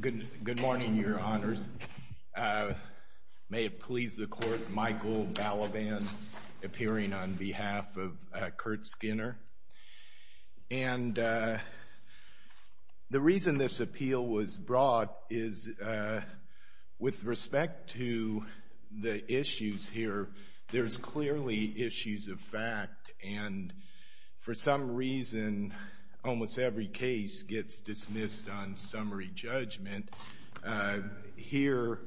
Good morning, Your Honors. May it please the Court, Michael Balaban appearing on behalf of Kurt Skinner. And the reason this appeal was brought is with respect to the issues here, there's clearly issues of fact. And for some reason, almost every case gets dismissed on summary judgment. Here,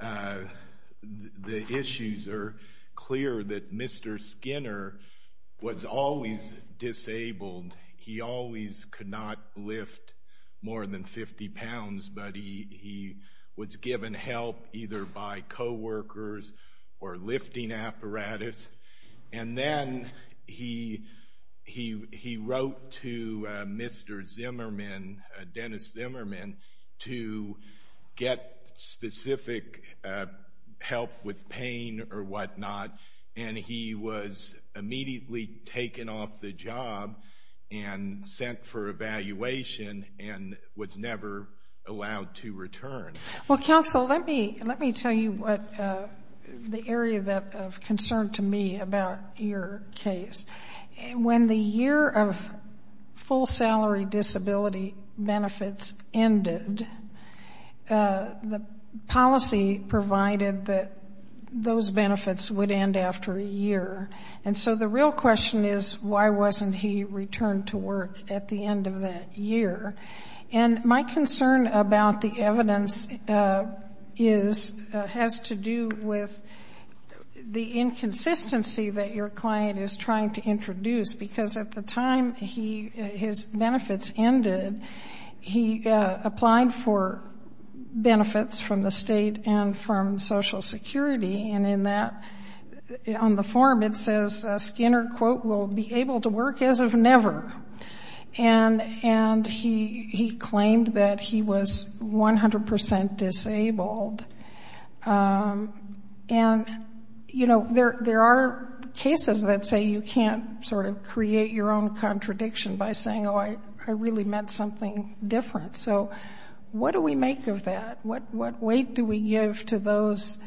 the issues are clear that Mr. Skinner was always disabled. He always could not lift more than 50 pounds, but he was given help either by coworkers or lifting apparatus. And then he wrote to Mr. Zimmerman, Dennis Zimmerman, to get specific help with pain or whatnot. And he was immediately taken off the job and sent for evaluation and was never allowed to return. Well, counsel, let me tell you what the area of concern to me about your case. When the year of full salary disability benefits ended, the policy provided that those benefits would end after a year. And so the real question is, why wasn't he returned to work at the end of that year? And my concern about the evidence is, has to do with the inconsistency that your client is trying to introduce. Because at the time his benefits ended, he applied for benefits from the state and from Social Security. And in that, on the form it says, Skinner quote, will be able to work as of never. And he claimed that he was 100% disabled. And, you know, there are cases that say you can't sort of create your own contradiction by saying, oh, I really meant something different. So what do we make of that? What weight do we give to those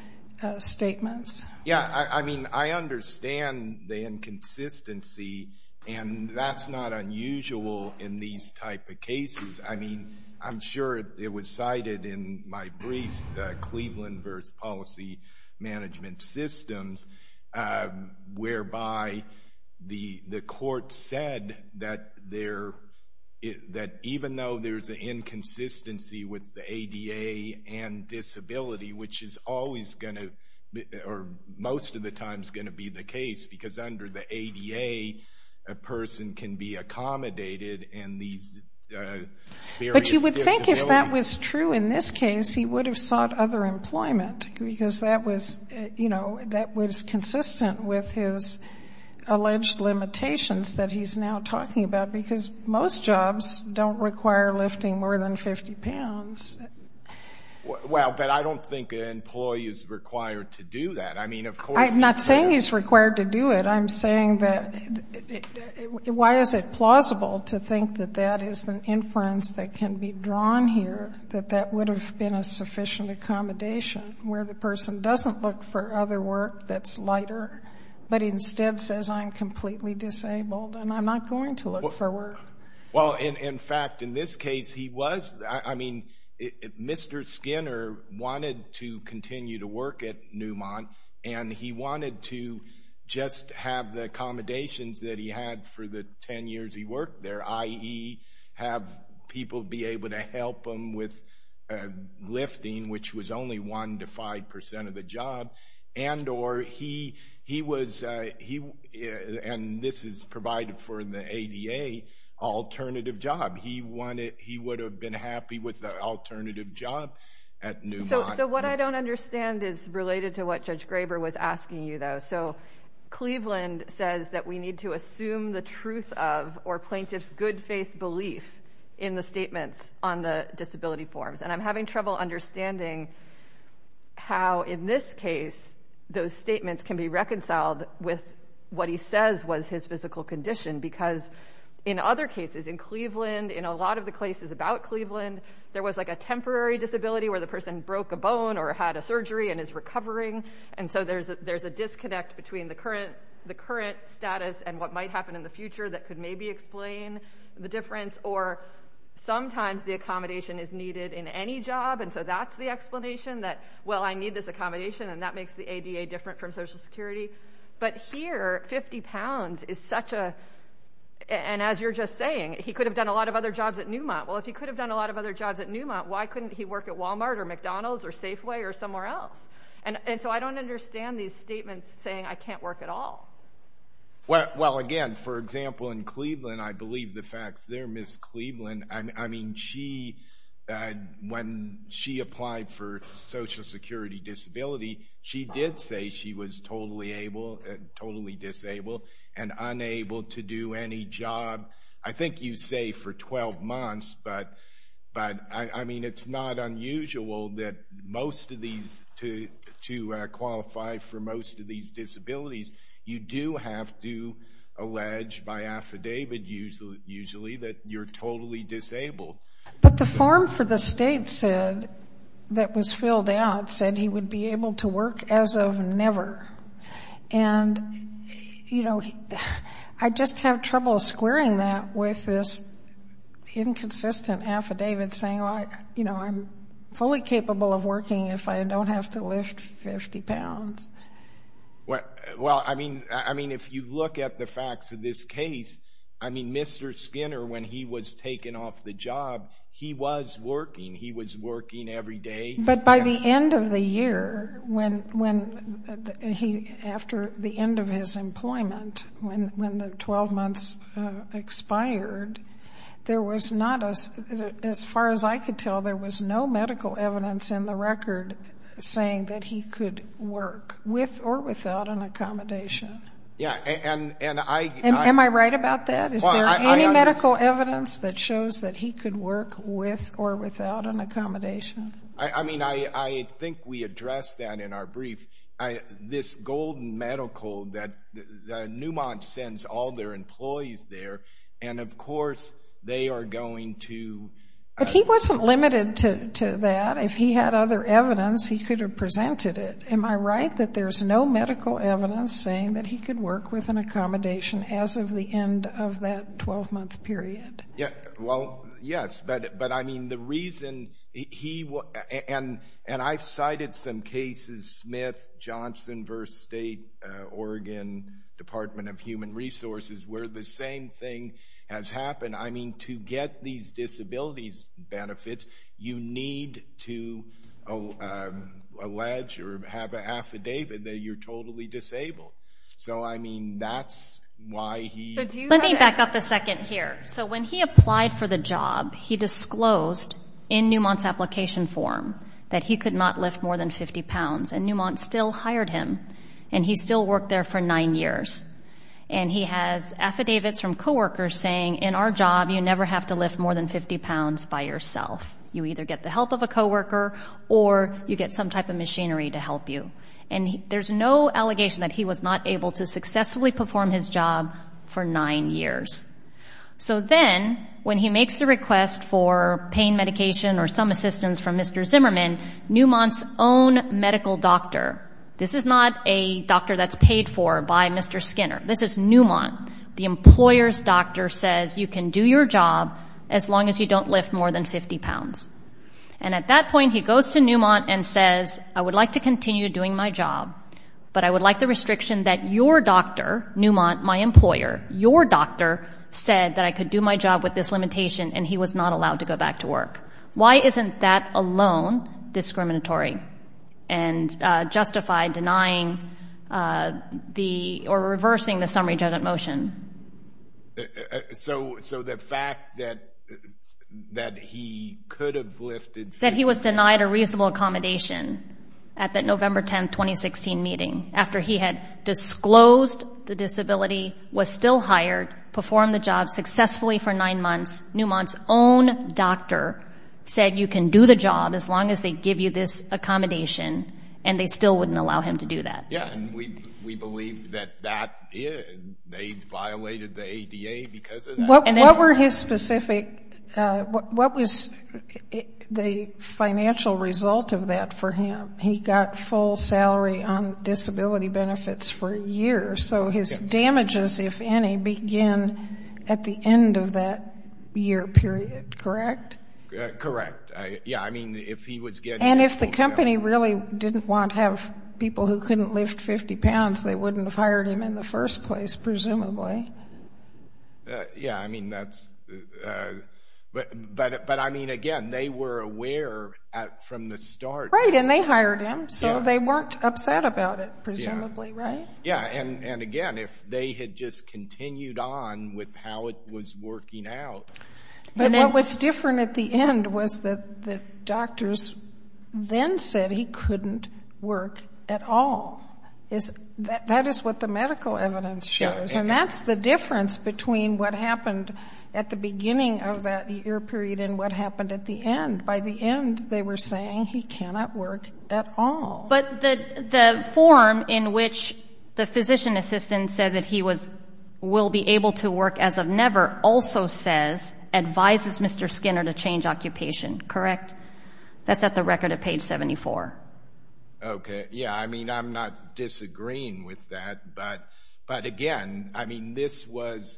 statements? Yeah, I mean, I understand the inconsistency. And that's not unusual in these type of cases. I mean, I'm sure it was cited in my brief, the Cleveland v. Policy Management Systems, whereby the court said that even though there's an inconsistency with the ADA and disability, which is always going to, or most of the time is going to be the case. Because under the ADA, a person can be accommodated in these various disabilities. But you would think if that was true in this case, he would have sought other employment. Because that was, you know, that was consistent with his alleged limitations that he's now talking about. Because most jobs don't require lifting more than 50 pounds. Well, but I don't think an employee is required to do that. I mean, of course he can. I'm not saying he's required to do it. I'm saying that why is it plausible to think that that is an inference that can be drawn here, that that would have been a sufficient accommodation where the person doesn't look for other work that's lighter, but instead says I'm completely disabled and I'm not going to look for work. Well, in fact, in this case, he was. I mean, Mr. Skinner wanted to continue to work at Newmont, and he wanted to just have the accommodations that he had for the 10 years he worked there, i.e., have people be able to help him with lifting, which was only 1 to 5% of the job. And this is provided for in the ADA, alternative job. He would have been happy with the alternative job at Newmont. So what I don't understand is related to what Judge Graber was asking you, though. So Cleveland says that we need to assume the how, in this case, those statements can be reconciled with what he says was his physical condition. Because in other cases, in Cleveland, in a lot of the cases about Cleveland, there was like a temporary disability where the person broke a bone or had a surgery and is recovering. And so there's a disconnect between the current status and what might happen in the future that could maybe explain the difference. Or sometimes the accommodation is needed in any job, and so that's the explanation that, well, I need this accommodation, and that makes the ADA different from Social Security. But here, 50 pounds is such a, and as you're just saying, he could have done a lot of other jobs at Newmont. Well, if he could have done a lot of other jobs at Newmont, why couldn't he work at Walmart or McDonald's or Safeway or somewhere else? And so I don't understand these statements saying I can't work at all. Well, again, for example, in Cleveland, I believe the facts there, Ms. Cleveland, I mean, she, when she applied for Social Security disability, she did say she was totally able, totally disabled, and unable to do any job, I think you say for 12 months, but, I mean, it's not unusual that most of these, to qualify for most of these disabilities, you do have to allege by affidavit usually that you're totally disabled. But the form for the state said, that was filled out, said he would be able to work as of never. And, you know, I just have trouble squaring that with this inconsistent affidavit saying, you know, I'm fully capable of working if I don't have to lift 50 pounds. Well, I mean, if you look at the facts of this case, I mean, Mr. Skinner, when he was taken off the job, he was working. He was expired. There was not, as far as I could tell, there was no medical evidence in the record saying that he could work with or without an accommodation. Yeah, and I Am I right about that? Is there any medical evidence that shows that he could work with or without an accommodation? I mean, I think we addressed that in our brief. This Golden Medical, that Newmont sends all their employees there, and, of course, they are going to But he wasn't limited to that. If he had other evidence, he could have presented it. Am I right that there's no medical evidence saying that he could work with an accommodation as of the end of that 12-month period? Well, yes, but, I mean, the reason he, and I've cited some cases, Smith, Johnson v. State, Oregon, Department of Human Resources, where the same thing has happened. I mean, to get these disabilities benefits, you need to allege or have an affidavit that you're totally disabled. So, I mean, that's why he Let me back up a second here. So, when he applied for the job, he disclosed in Newmont's application form that he could not lift more than 50 pounds, and Newmont still hired him, and he still worked there for nine years. And he has affidavits from coworkers saying, in our job, you never have to lift more than 50 pounds by yourself. You either get the help of a coworker or you get some type of machinery to help you. And there's no allegation that he was not able to successfully perform his job for nine years. So then, when he makes the request for pain medication or some assistance from Mr. Zimmerman, Newmont's own medical doctor, this is not a doctor that's paid for by Mr. Skinner, this is Newmont, the employer's doctor says you can do your job as long as you don't lift more than 50 pounds. And at that point, he goes to Newmont and says, I would like to continue doing my job, but I would like the restriction that your doctor, Newmont, my employer, your doctor said that I could do my job with this limitation, and he was not allowed to go back to work. Why isn't that alone discriminatory and justified denying the, or reversing the summary judgment motion? So the fact that he could have lifted 50... That he was denied a reasonable accommodation at that November 10, 2016 meeting, after he had disclosed the disability, was still hired, performed the job successfully for nine months, Newmont's own doctor said you can do the job as long as they give you this accommodation, and they still wouldn't allow him to do that. Yeah, and we believe that that, they violated the ADA because of that. What were his specific, what was the financial result of that for him? He got full salary on disability benefits for a year, so his damages, if any, begin at the end of that year period, correct? Correct. Yeah, I mean, if he was getting... And if the company really didn't want, have people who couldn't lift 50 pounds, they wouldn't have hired him in the first place, presumably. Yeah, I mean, that's, but I mean, again, they were aware from the start. Right, and they hired him, so they weren't upset about it, presumably, right? Yeah, and again, if they had just continued on with how it was working out... But what was different at the end was that the doctors then said he couldn't work at all. That is what the medical evidence shows, and that's the difference between what happened at the beginning of that year period and what happened at the end. By the end, they were saying he cannot work at all. But the form in which the physician assistant said that he will be able to work as of never also says, advises Mr. Skinner to change occupation, correct? That's at the record at page 74. Okay, yeah, I mean, I'm not disagreeing with that, but again, I mean, this was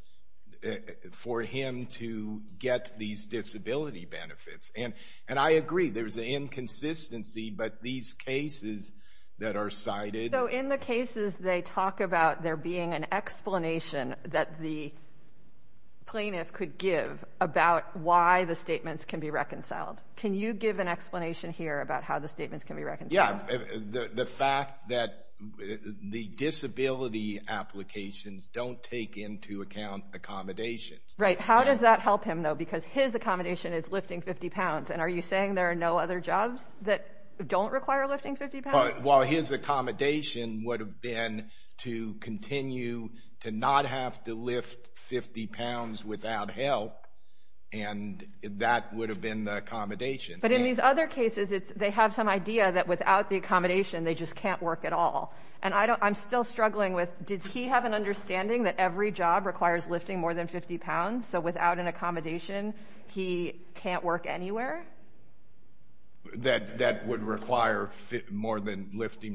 for him to get these disability benefits. And I agree, there's an inconsistency, but these cases that are cited... So in the cases, they talk about there being an explanation that the plaintiff could give about why the statements can be reconciled. Can you give an explanation here about how the statements can be reconciled? Yeah, the fact that the disability applications don't take into account accommodations. Right, how does that help him though? Because his accommodation is lifting 50 pounds, and are you saying there are no other jobs that don't require lifting 50 pounds? Well, his accommodation would have been to continue to not have to lift 50 pounds without help, and that would have been the accommodation. But in these other cases, they have some idea that without the accommodation, they just can't work at all. And I'm still struggling with, did he have an understanding that every job requires lifting more than 50 pounds? So without an accommodation, he can't work anywhere? That would require lifting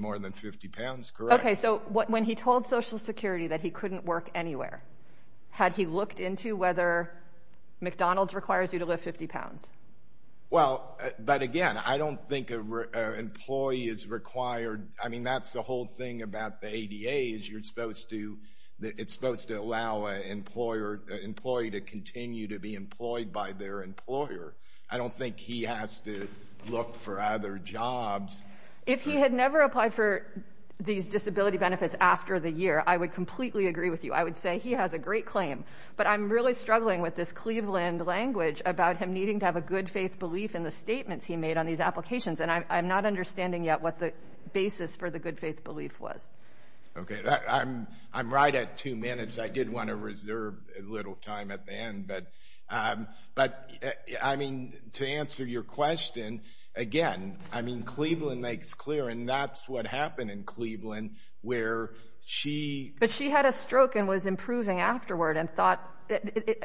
more than 50 pounds, correct. Okay, so when he told Social Security that he couldn't work anywhere, had he looked into whether McDonald's requires you to lift 50 pounds? Well, but again, I don't think an employee is required, I mean, that's the whole thing about the ADA, is you're supposed to, it's supposed to allow an employee to continue to be employed by their employer. I don't think he has to look for other jobs. If he had never applied for these disability benefits after the year, I would completely agree with you. I would say he has a great claim. But I'm really struggling with this Cleveland language about him needing to have a good faith belief in the statements he made on these applications. And I'm not understanding yet what the basis for the good faith belief was. Okay, I'm right at two minutes. I did want to reserve a little time at the end. But, I mean, to answer your question, again, I mean, Cleveland makes clear, and that's what happened in Cleveland, where she... was improving afterward and thought,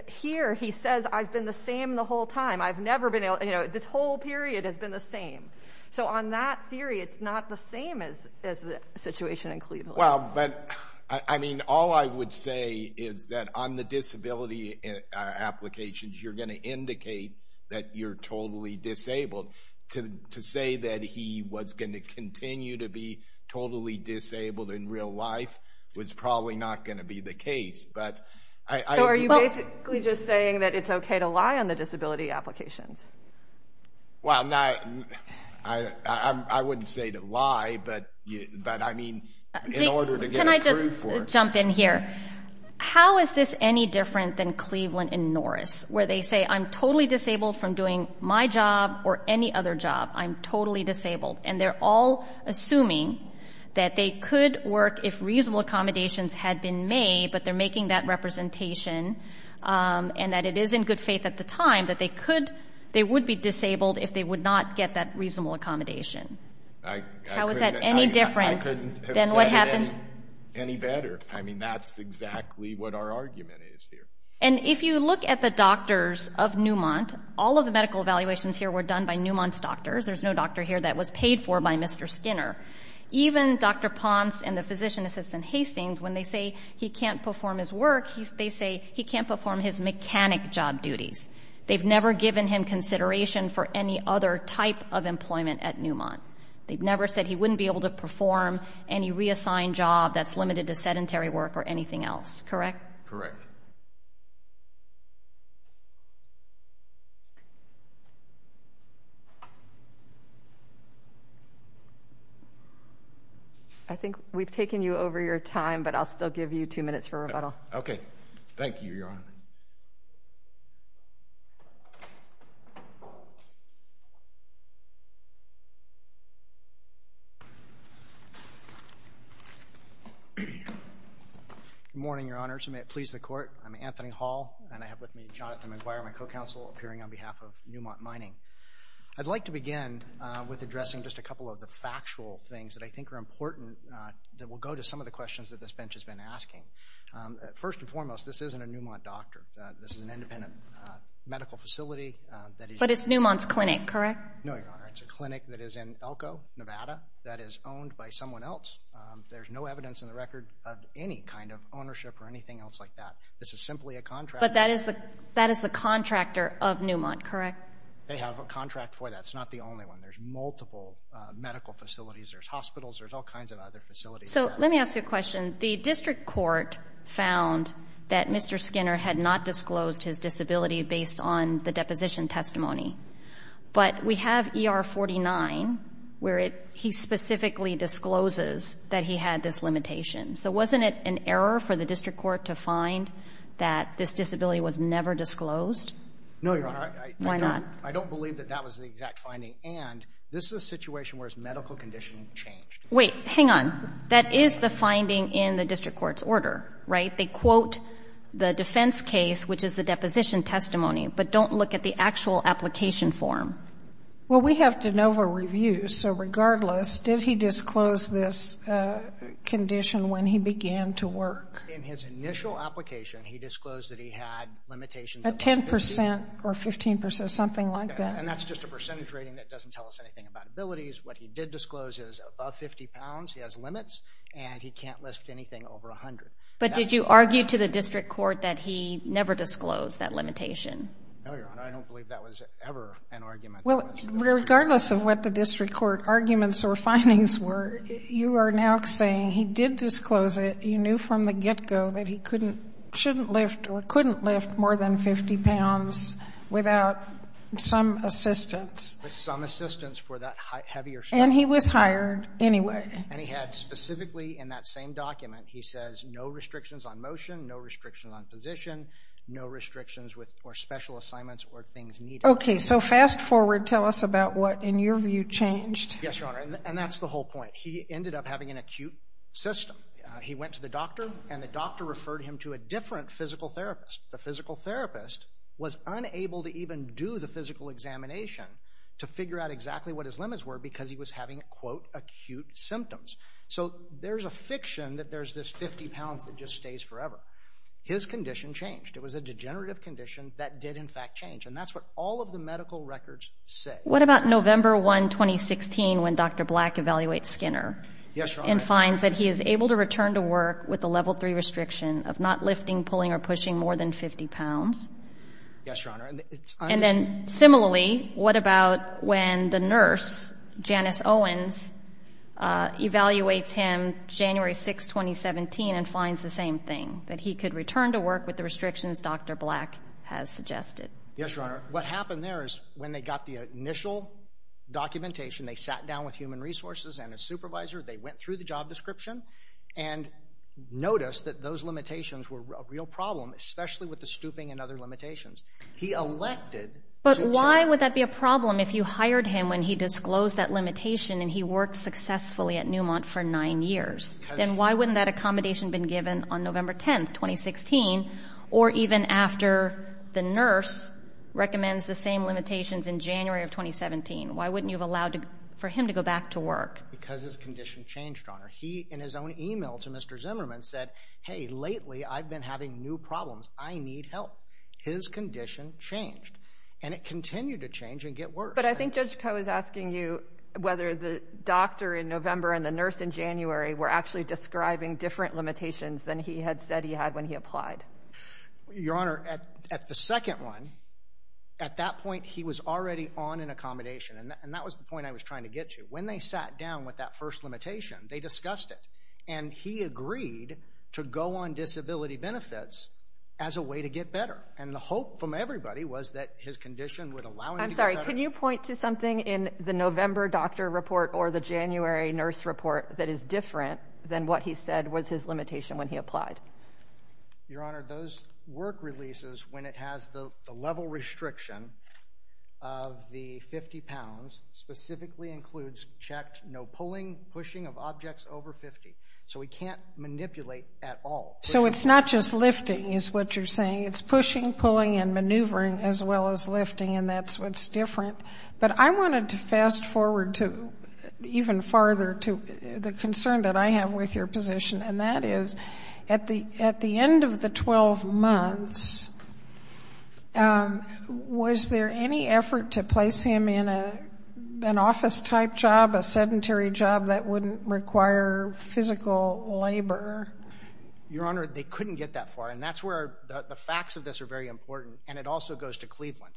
here, he says, I've been the same the whole time. I've never been able, you know, this whole period has been the same. So on that theory, it's not the same as the situation in Cleveland. Well, but, I mean, all I would say is that on the disability applications, you're going to indicate that you're totally disabled. To say that he was going to continue to be totally disabled in real life was probably not going to be the case. So are you basically just saying that it's okay to lie on the disability applications? Well, I wouldn't say to lie, but, I mean, in order to get approved for it. Can I just jump in here? How is this any different than Cleveland and Norris, where they say, I'm totally disabled from doing my job or any other job. I'm totally disabled. And they're all assuming that they could work if reasonable accommodations had been made, but they're making that representation. And that it is in good faith at the time that they could, they would be disabled if they would not get that reasonable accommodation. How is that any different than what happens... That's exactly what our argument is here. And if you look at the doctors of Newmont, all of the medical evaluations here were done by Newmont's doctors. There's no doctor here that was paid for by Mr. Skinner. Even Dr. Ponce and the physician assistant Hastings, when they say he can't perform his work, they say he can't perform his mechanic job duties. They've never given him consideration for any other type of employment at Newmont. They've never said he wouldn't be able to perform any reassigned job that's limited to sedentary work or anything else. Correct? Correct. I think we've taken you over your time, but I'll still give you two minutes for rebuttal. Okay. Thank you, Your Honor. Good morning, Your Honor, so may it please the Court. I'm Anthony Hall, and I have with me Jonathan McGuire, my co-counsel, appearing on behalf of Newmont Mining. I'd like to begin with addressing just a couple of the factual things that I think are important that will go to some of the questions that this bench has been asking. First and foremost, this isn't a Newmont doctor. This is an independent medical facility that is... But it's Newmont's clinic, correct? No, Your Honor. It's a clinic that is in Elko, Nevada, that is owned by someone else. There's no evidence in the record of any kind of ownership or anything else like that. This is simply a contract. But that is the contractor of Newmont, correct? They have a contract for that. It's not the only one. There's multiple medical facilities. There's hospitals. There's all kinds of other facilities. So let me ask you a question. The district court found that Mr. Skinner had not disclosed his disability based on the deposition testimony. But we have ER 49 where he specifically discloses that he had this limitation. So wasn't it an error for the district court to find that this disability was never disclosed? No, Your Honor. Why not? I don't believe that that was the exact finding. And this is a situation where his medical condition changed. Wait. Hang on. That is the finding in the district court's order, right? They quote the defense case, which is the deposition testimony, but don't look at the actual application form. Well, we have de novo reviews. So regardless, did he disclose this condition when he began to work? In his initial application, he disclosed that he had limitations above 50. A 10 percent or 15 percent, something like that. And that's just a percentage rating that doesn't tell us anything about abilities. What he did disclose is above 50 pounds. He has limits. And he can't lift anything over 100. But did you argue to the district court that he never disclosed that limitation? No, Your Honor. I don't believe that was ever an argument. Well, regardless of what the district court arguments or findings were, you are now saying he did disclose it. You knew from the get-go that he couldn't, shouldn't lift or couldn't lift more than 50 pounds without some assistance. With some assistance for that heavier shift. And he was hired anyway. And he had specifically in that same document, he says no restrictions on motion, no restrictions on position, no restrictions for special assignments or things needed. Okay. So fast forward, tell us about what in your view changed. Yes, Your Honor. And that's the whole point. He ended up having an acute system. He went to the doctor, and the doctor referred him to a different physical therapist. The physical therapist was unable to even do the physical examination to figure out exactly what his limits were because he was having, quote, acute symptoms. So there's a fiction that there's this 50 pounds that just stays forever. His condition changed. It was a degenerative condition that did, in fact, change. And that's what all of the medical records say. What about November 1, 2016, when Dr. Black evaluates Skinner? Yes, Your Honor. And finds that he is able to return to work with a Level III restriction of not lifting, pulling, or pushing more than 50 pounds? Yes, Your Honor. And then similarly, what about when the nurse, Janice Owens, evaluates him January 6, 2017, and finds the same thing, that he could return to work with the restrictions Dr. Black has suggested? Yes, Your Honor. What happened there is when they got the initial documentation, they sat down with human resources and a supervisor. They went through the job description and noticed that those limitations were a real problem, especially with the stooping and other limitations. But why would that be a problem if you hired him when he disclosed that limitation and he worked successfully at Newmont for nine years? Then why wouldn't that accommodation have been given on November 10, 2016, or even after the nurse recommends the same limitations in January of 2017? Why wouldn't you have allowed for him to go back to work? Because his condition changed, Your Honor. He, in his own email to Mr. Zimmerman, said, hey, lately I've been having new problems. I need help. His condition changed, and it continued to change and get worse. But I think Judge Koh is asking you whether the doctor in November and the nurse in January were actually describing different limitations than he had said he had when he applied. Your Honor, at the second one, at that point, he was already on an accommodation, and that was the point I was trying to get to. When they sat down with that first limitation, they discussed it, and he agreed to go on disability benefits as a way to get better. And the hope from everybody was that his condition would allow him to get better. I'm sorry. Can you point to something in the November doctor report or the January nurse report that is different than what he said was his limitation when he applied? Your Honor, those work releases when it has the level restriction of the 50 pounds specifically includes checked no pulling, pushing of objects over 50. So he can't manipulate at all. So it's not just lifting is what you're saying. It's pushing, pulling, and maneuvering as well as lifting, and that's what's different. But I wanted to fast forward to even farther to the concern that I have with your position, and that is at the end of the 12 months, was there any effort to place him in an office-type job, a sedentary job that wouldn't require physical labor? Your Honor, they couldn't get that far, and that's where the facts of this are very important, and it also goes to Cleveland.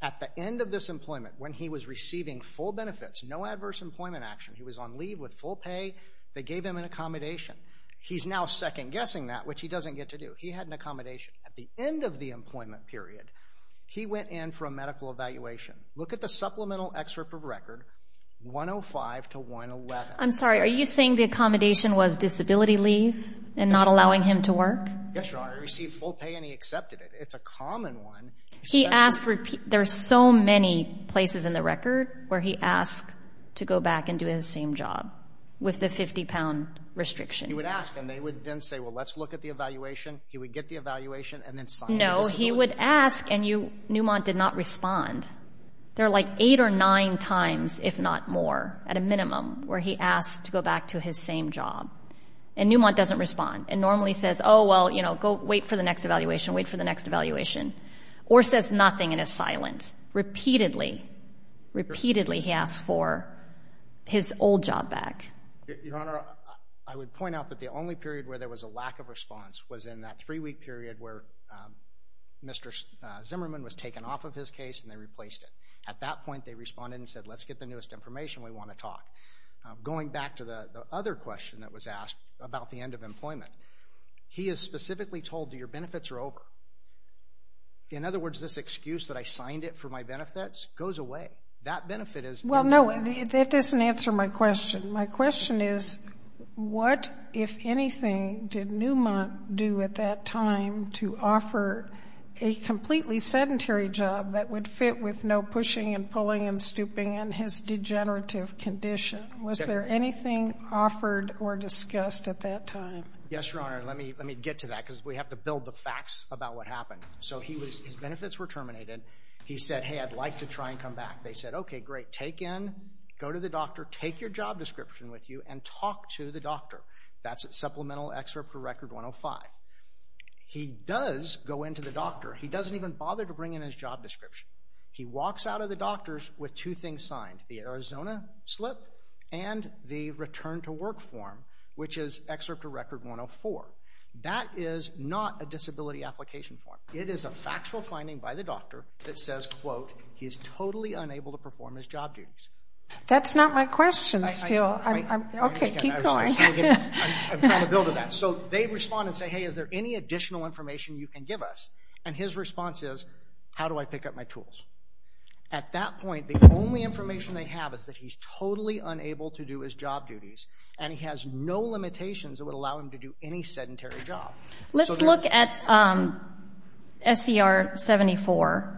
At the end of this employment, when he was receiving full benefits, no adverse employment action, he was on leave with full pay, they gave him an accommodation. He's now second-guessing that, which he doesn't get to do. He had an accommodation. At the end of the employment period, he went in for a medical evaluation. Look at the supplemental excerpt of record 105 to 111. I'm sorry. Are you saying the accommodation was disability leave and not allowing him to work? Yes, Your Honor. He received full pay, and he accepted it. It's a common one. There are so many places in the record where he asked to go back and do his same job with the 50-pound restriction. He would ask, and they would then say, well, let's look at the evaluation. He would get the evaluation and then sign the disability leave. No, he would ask, and Newmont did not respond. There are like eight or nine times, if not more, at a minimum, where he asked to go back to his same job, and Newmont doesn't respond and normally says, oh, well, you know, wait for the next evaluation, wait for the next evaluation, or says nothing and is silent. Repeatedly, repeatedly he asked for his old job back. Your Honor, I would point out that the only period where there was a lack of response was in that three-week period where Mr. Zimmerman was taken off of his case and they replaced him. At that point, they responded and said, let's get the newest information. We want to talk. Going back to the other question that was asked about the end of employment, he is specifically told, your benefits are over. In other words, this excuse that I signed it for my benefits goes away. That benefit is no more. Well, no, that doesn't answer my question. My question is, what, if anything, did Newmont do at that time to offer a completely sedentary job that would fit with no pushing and pulling and stooping and his degenerative condition? Was there anything offered or discussed at that time? Yes, Your Honor. Let me get to that because we have to build the facts about what happened. So his benefits were terminated. He said, hey, I'd like to try and come back. They said, okay, great, take in, go to the doctor, take your job description with you and talk to the doctor. That's at Supplemental Excerpt for Record 105. He does go in to the doctor. He doesn't even bother to bring in his job description. He walks out of the doctor's with two things signed, the Arizona slip and the return to work form, which is Excerpt for Record 104. That is not a disability application form. It is a factual finding by the doctor that says, quote, he's totally unable to perform his job duties. That's not my question still. Okay, keep going. I'm trying to build on that. So they respond and say, hey, is there any additional information you can give us? And his response is, how do I pick up my tools? At that point, the only information they have is that he's totally unable to do his job duties, and he has no limitations that would allow him to do any sedentary job. Let's look at SCR 74.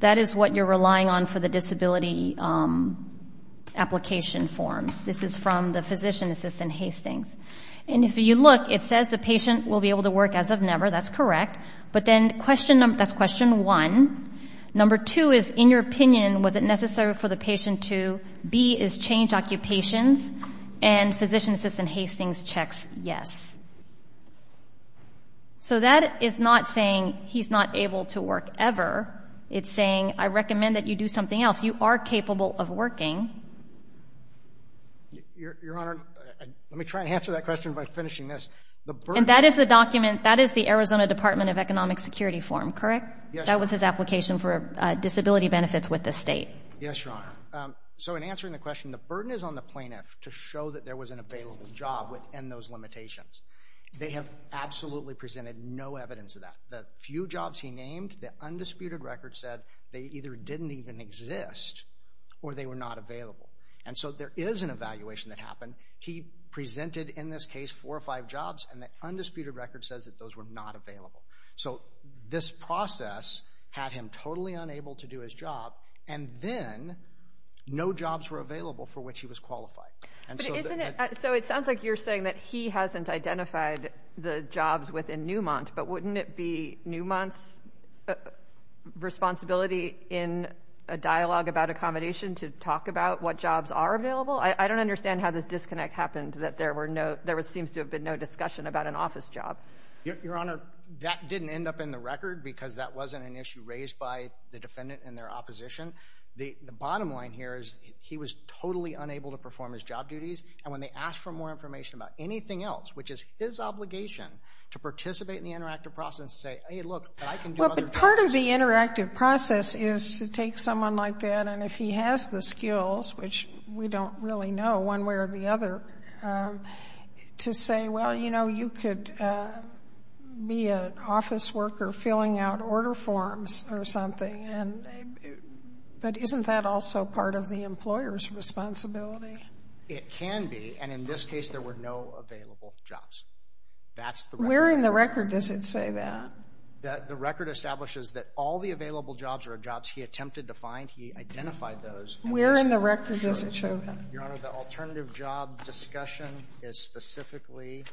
That is what you're relying on for the disability application forms. This is from the physician assistant, Hastings. And if you look, it says the patient will be able to work as of never. That's correct. But then that's question one. Number two is, in your opinion, was it necessary for the patient to B is change occupations, and physician assistant Hastings checks yes. So that is not saying he's not able to work ever. It's saying I recommend that you do something else. You are capable of working. Your Honor, let me try to answer that question by finishing this. And that is the document, that is the Arizona Department of Economic Security form, correct? Yes, Your Honor. That was his application for disability benefits with the state. Yes, Your Honor. So in answering the question, the burden is on the plaintiff to show that there was an available job within those limitations. They have absolutely presented no evidence of that. The few jobs he named, the undisputed record said they either didn't even exist or they were not available. And so there is an evaluation that happened. He presented, in this case, four or five jobs, and the undisputed record says that those were not available. So this process had him totally unable to do his job, and then no jobs were available for which he was qualified. So it sounds like you're saying that he hasn't identified the jobs within Newmont, but wouldn't it be Newmont's responsibility in a dialogue about accommodation to talk about what jobs are available? I don't understand how this disconnect happened that there seems to have been no discussion about an office job. Your Honor, that didn't end up in the record because that wasn't an issue raised by the defendant and their opposition. The bottom line here is he was totally unable to perform his job duties, and when they asked for more information about anything else, which is his obligation to participate in the interactive process and say, hey, look, I can do other things. Well, but part of the interactive process is to take someone like that, and if he has the skills, which we don't really know one way or the other, to say, well, you know, you could be an office worker filling out order forms or something, but isn't that also part of the employer's responsibility? It can be, and in this case there were no available jobs. That's the record. Where in the record does it say that? The record establishes that all the available jobs are jobs he attempted to find. He identified those. Where in the record does it show that? Your Honor, the alternative job discussion is specifically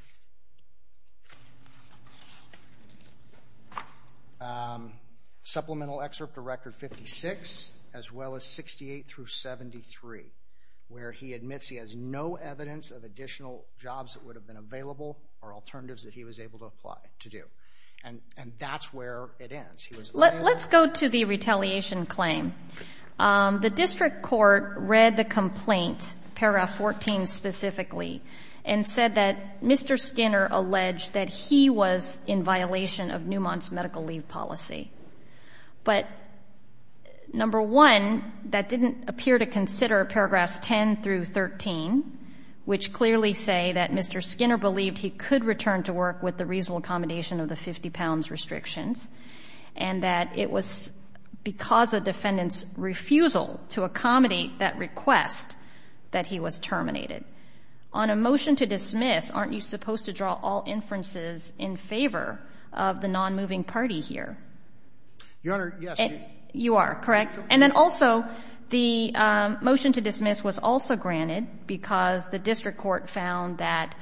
supplemental excerpt to Record 56 as well as 68 through 73, where he admits he has no evidence of additional jobs that would have been available or alternatives that he was able to apply to do. And that's where it ends. Let's go to the retaliation claim. The district court read the complaint, paragraph 14 specifically, and said that Mr. Skinner alleged that he was in violation of Newmont's medical leave policy. But, number one, that didn't appear to consider paragraphs 10 through 13, which clearly say that Mr. Skinner believed he could return to work with the reasonable accommodation of the 50 pounds restrictions and that it was because a defendant's refusal to accommodate that request that he was terminated. On a motion to dismiss, aren't you supposed to draw all inferences in favor of the non-moving party here? Your Honor, yes. You are, correct? And then also the motion to dismiss was also granted because the district court found that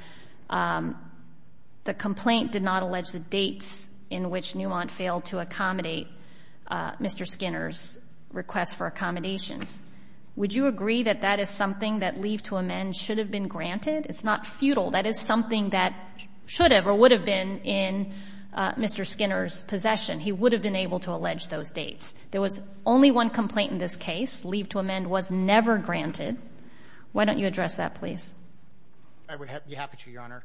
the complaint did not allege the dates in which Newmont failed to accommodate Mr. Skinner's request for accommodations. Would you agree that that is something that leave to amend should have been granted? It's not futile. That is something that should have or would have been in Mr. Skinner's possession. He would have been able to allege those dates. There was only one complaint in this case. Leave to amend was never granted. I would be happy to, Your Honor.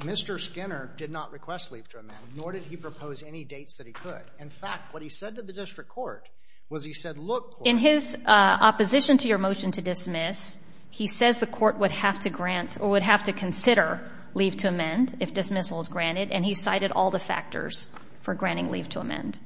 Mr. Skinner did not request leave to amend, nor did he propose any dates that he could. In fact, what he said to the district court was he said, look, court. In his opposition to your motion to dismiss, he says the court would have to grant or would have to consider leave to amend if dismissal is granted, and he cited all the factors for granting leave to amend.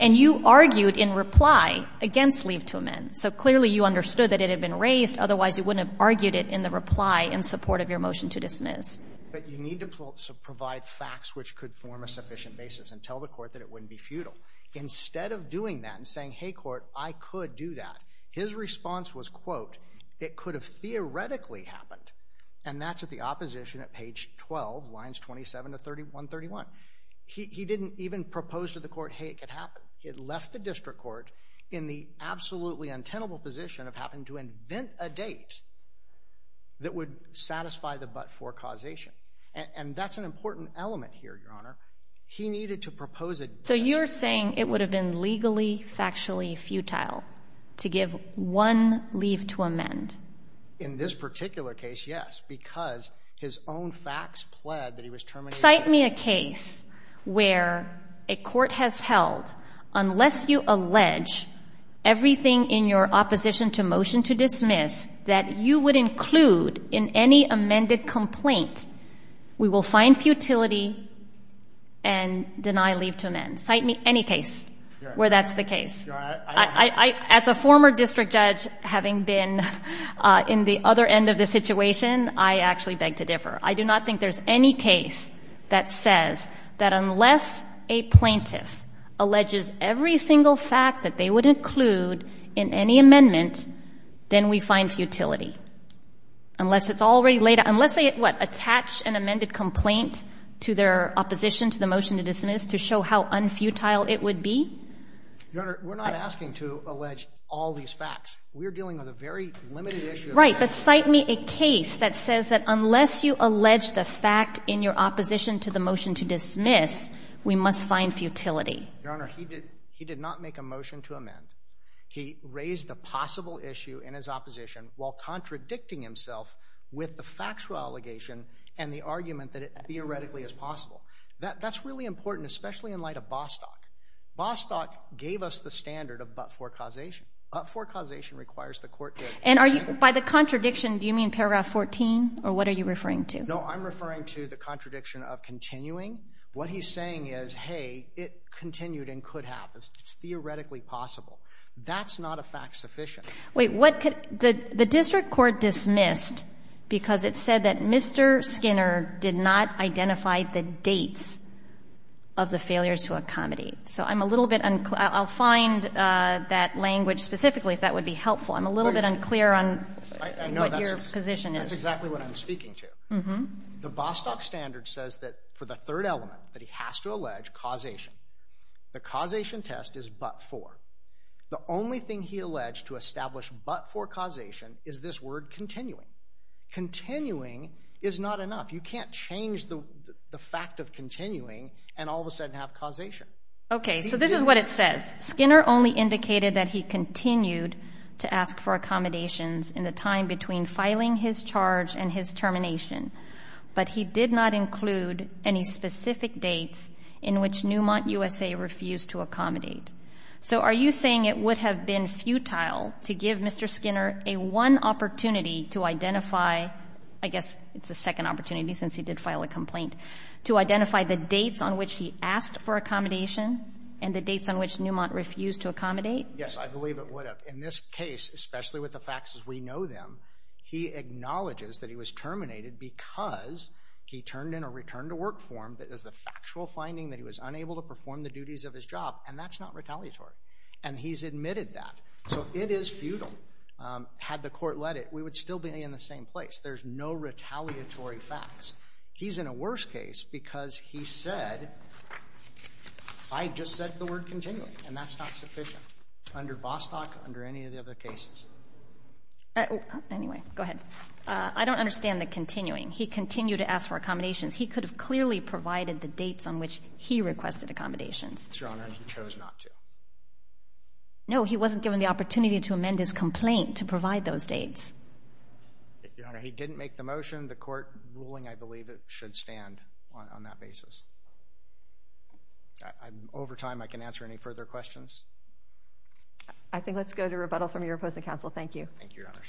And you argued in reply against leave to amend. So clearly you understood that it had been raised. Otherwise, you wouldn't have argued it in the reply in support of your motion to dismiss. But you need to provide facts which could form a sufficient basis and tell the court that it wouldn't be futile. Instead of doing that and saying, hey, court, I could do that, his response was, quote, it could have theoretically happened. And that's at the opposition at page 12, lines 27 to 3131. He didn't even propose to the court, hey, it could happen. It left the district court in the absolutely untenable position of having to invent a date that would satisfy the but-for causation. And that's an important element here, Your Honor. He needed to propose a date. So you're saying it would have been legally, factually futile to give one leave to amend. In this particular case, yes, because his own facts pled that he was terminated. If you cite me a case where a court has held, unless you allege everything in your opposition to motion to dismiss that you would include in any amended complaint, we will find futility and deny leave to amend. Cite me any case where that's the case. As a former district judge having been in the other end of the situation, I actually beg to differ. I do not think there's any case that says that unless a plaintiff alleges every single fact that they would include in any amendment, then we find futility. Unless it's already laid out. Unless they, what, attach an amended complaint to their opposition to the motion to dismiss to show how unfutile it would be? Your Honor, we're not asking to allege all these facts. We're dealing with a very limited issue of facts. All right, but cite me a case that says that unless you allege the fact in your opposition to the motion to dismiss, we must find futility. Your Honor, he did not make a motion to amend. He raised the possible issue in his opposition while contradicting himself with the factual allegation and the argument that it theoretically is possible. That's really important, especially in light of Bostock. Bostock gave us the standard of but-for causation. But-for causation requires the court to agree. And are you, by the contradiction, do you mean paragraph 14? Or what are you referring to? No, I'm referring to the contradiction of continuing. What he's saying is, hey, it continued and could happen. It's theoretically possible. That's not a fact sufficient. Wait, what could, the district court dismissed because it said that Mr. Skinner did not identify the dates of the failures to accommodate. So I'm a little bit, I'll find that language specifically if that would be helpful. I'm a little bit unclear on what your position is. That's exactly what I'm speaking to. The Bostock standard says that for the third element that he has to allege, causation, the causation test is but-for. The only thing he alleged to establish but-for causation is this word continuing. Continuing is not enough. You can't change the fact of continuing and all of a sudden have causation. Okay, so this is what it says. It says, Skinner only indicated that he continued to ask for accommodations in the time between filing his charge and his termination, but he did not include any specific dates in which Newmont USA refused to accommodate. So are you saying it would have been futile to give Mr. Skinner a one opportunity to identify, I guess it's a second opportunity since he did file a complaint, to identify the dates on which he asked for accommodation and the dates on which Newmont refused to accommodate? Yes, I believe it would have. In this case, especially with the facts as we know them, he acknowledges that he was terminated because he turned in a return to work form that is the factual finding that he was unable to perform the duties of his job, and that's not retaliatory, and he's admitted that. So it is futile. Had the court let it, we would still be in the same place. There's no retaliatory facts. He's in a worse case because he said, I just said the word continuing, and that's not sufficient under Vostok, under any of the other cases. Anyway, go ahead. I don't understand the continuing. He continued to ask for accommodations. He could have clearly provided the dates on which he requested accommodations. Yes, Your Honor, and he chose not to. No, he wasn't given the opportunity to amend his complaint to provide those dates. Your Honor, he didn't make the motion. The court ruling, I believe, should stand on that basis. Over time, I can answer any further questions. I think let's go to rebuttal from your opposing counsel. Thank you. Thank you, Your Honors.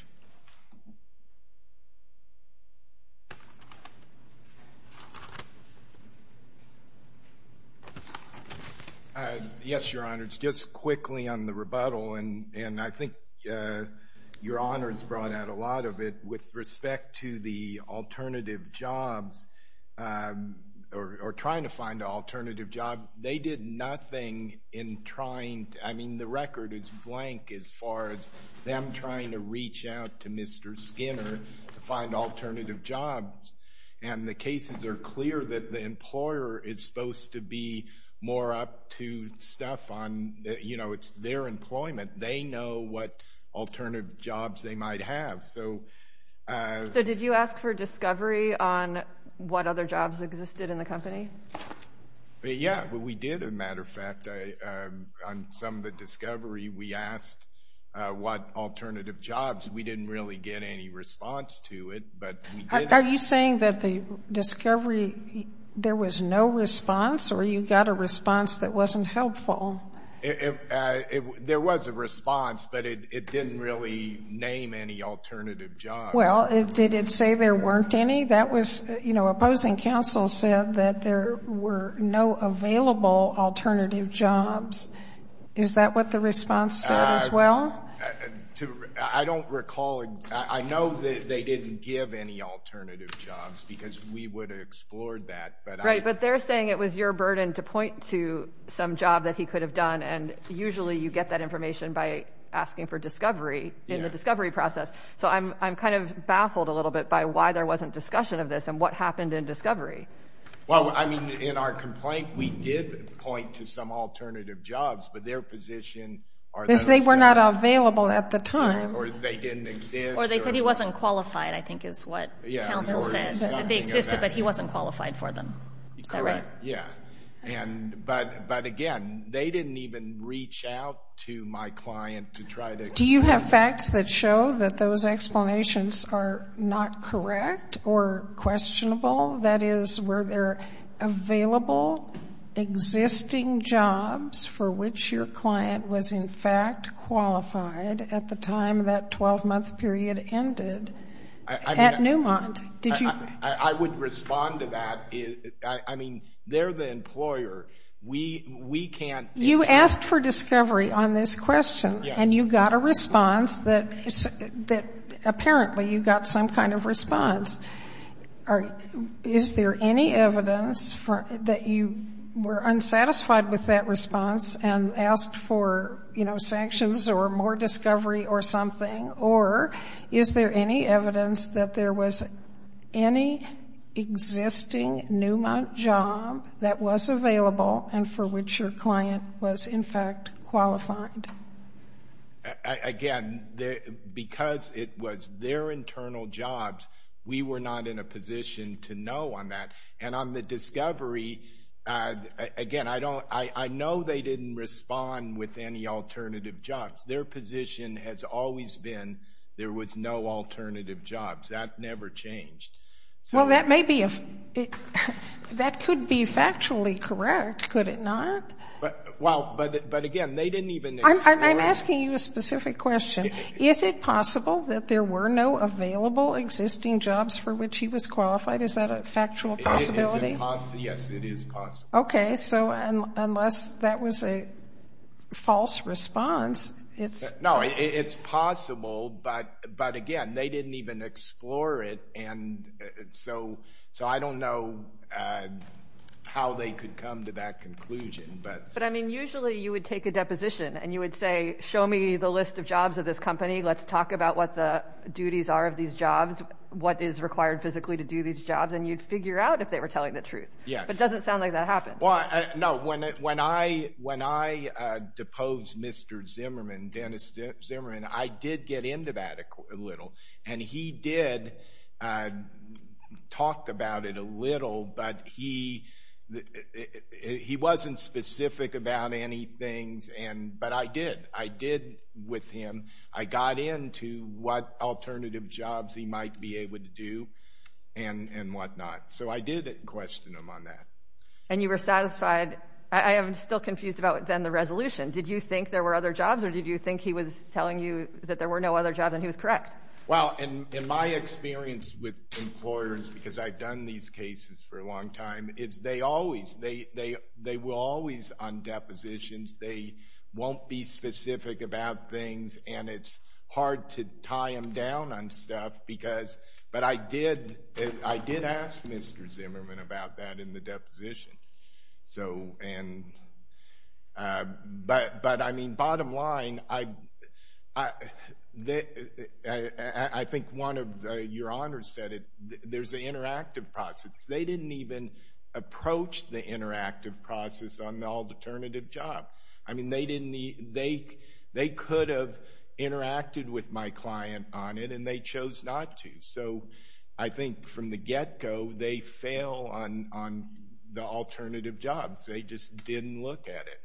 Yes, Your Honors, just quickly on the rebuttal, and I think Your Honors brought out a lot of it, with respect to the alternative jobs or trying to find an alternative job. They did nothing in trying to, I mean, the record is blank as far as them trying to reach out to Mr. Skinner to find alternative jobs, and the cases are clear that the employer is supposed to be more up to stuff on, you know, it's their employment. They know what alternative jobs they might have. So did you ask for discovery on what other jobs existed in the company? Yeah, we did, as a matter of fact. On some of the discovery, we asked what alternative jobs. We didn't really get any response to it, but we did ask. Are you saying that the discovery, there was no response, or you got a response that wasn't helpful? There was a response, but it didn't really name any alternative jobs. Well, did it say there weren't any? That was, you know, opposing counsel said that there were no available alternative jobs. Is that what the response said as well? I don't recall. I know that they didn't give any alternative jobs, because we would have explored that. Right, but they're saying it was your burden to point to some job that he could have done, and usually you get that information by asking for discovery in the discovery process. So I'm kind of baffled a little bit by why there wasn't discussion of this and what happened in discovery. Well, I mean, in our complaint, we did point to some alternative jobs, but their position are those that are available. Because they were not available at the time. Or they didn't exist. Or they said he wasn't qualified, I think is what counsel said. They existed, but he wasn't qualified for them. Is that right? Correct, yeah. But, again, they didn't even reach out to my client to try to explain. Do you have facts that show that those explanations are not correct or questionable? That is, were there available existing jobs for which your client was, in fact, qualified at the time that 12-month period ended at Newmont? I would respond to that. I mean, they're the employer. We can't. You asked for discovery on this question, and you got a response that apparently you got some kind of response. Is there any evidence that you were unsatisfied with that response and asked for, you know, sanctions or more discovery or something? Or is there any evidence that there was any existing Newmont job that was available and for which your client was, in fact, qualified? Again, because it was their internal jobs, we were not in a position to know on that. And on the discovery, again, I know they didn't respond with any alternative jobs. Their position has always been there was no alternative jobs. That never changed. Well, that could be factually correct, could it not? Well, but again, they didn't even explain. I'm asking you a specific question. Is it possible that there were no available existing jobs for which he was qualified? Is that a factual possibility? Yes, it is possible. Okay, so unless that was a false response. No, it's possible, but again, they didn't even explore it, and so I don't know how they could come to that conclusion. But, I mean, usually you would take a deposition and you would say show me the list of jobs of this company. Let's talk about what the duties are of these jobs, what is required physically to do these jobs, and you'd figure out if they were telling the truth. But it doesn't sound like that happened. No, when I deposed Mr. Zimmerman, Dennis Zimmerman, I did get into that a little, and he did talk about it a little, but he wasn't specific about any things, but I did. I did with him. I got into what alternative jobs he might be able to do and whatnot. So I did question him on that. And you were satisfied? I am still confused about then the resolution. Did you think there were other jobs, or did you think he was telling you that there were no other jobs and he was correct? Well, in my experience with employers, because I've done these cases for a long time, is they always, they were always on depositions. They won't be specific about things, and it's hard to tie them down on stuff, but I did ask Mr. Zimmerman about that in the deposition. But, I mean, bottom line, I think one of your honors said it, there's an interactive process. They didn't even approach the interactive process on the alternative job. I mean, they could have interacted with my client on it, and they chose not to. So I think from the get-go, they fail on the alternative jobs. They just didn't look at it.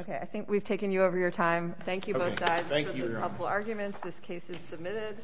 Okay. I think we've taken you over your time. Thank you both guys for the couple arguments. This case is submitted.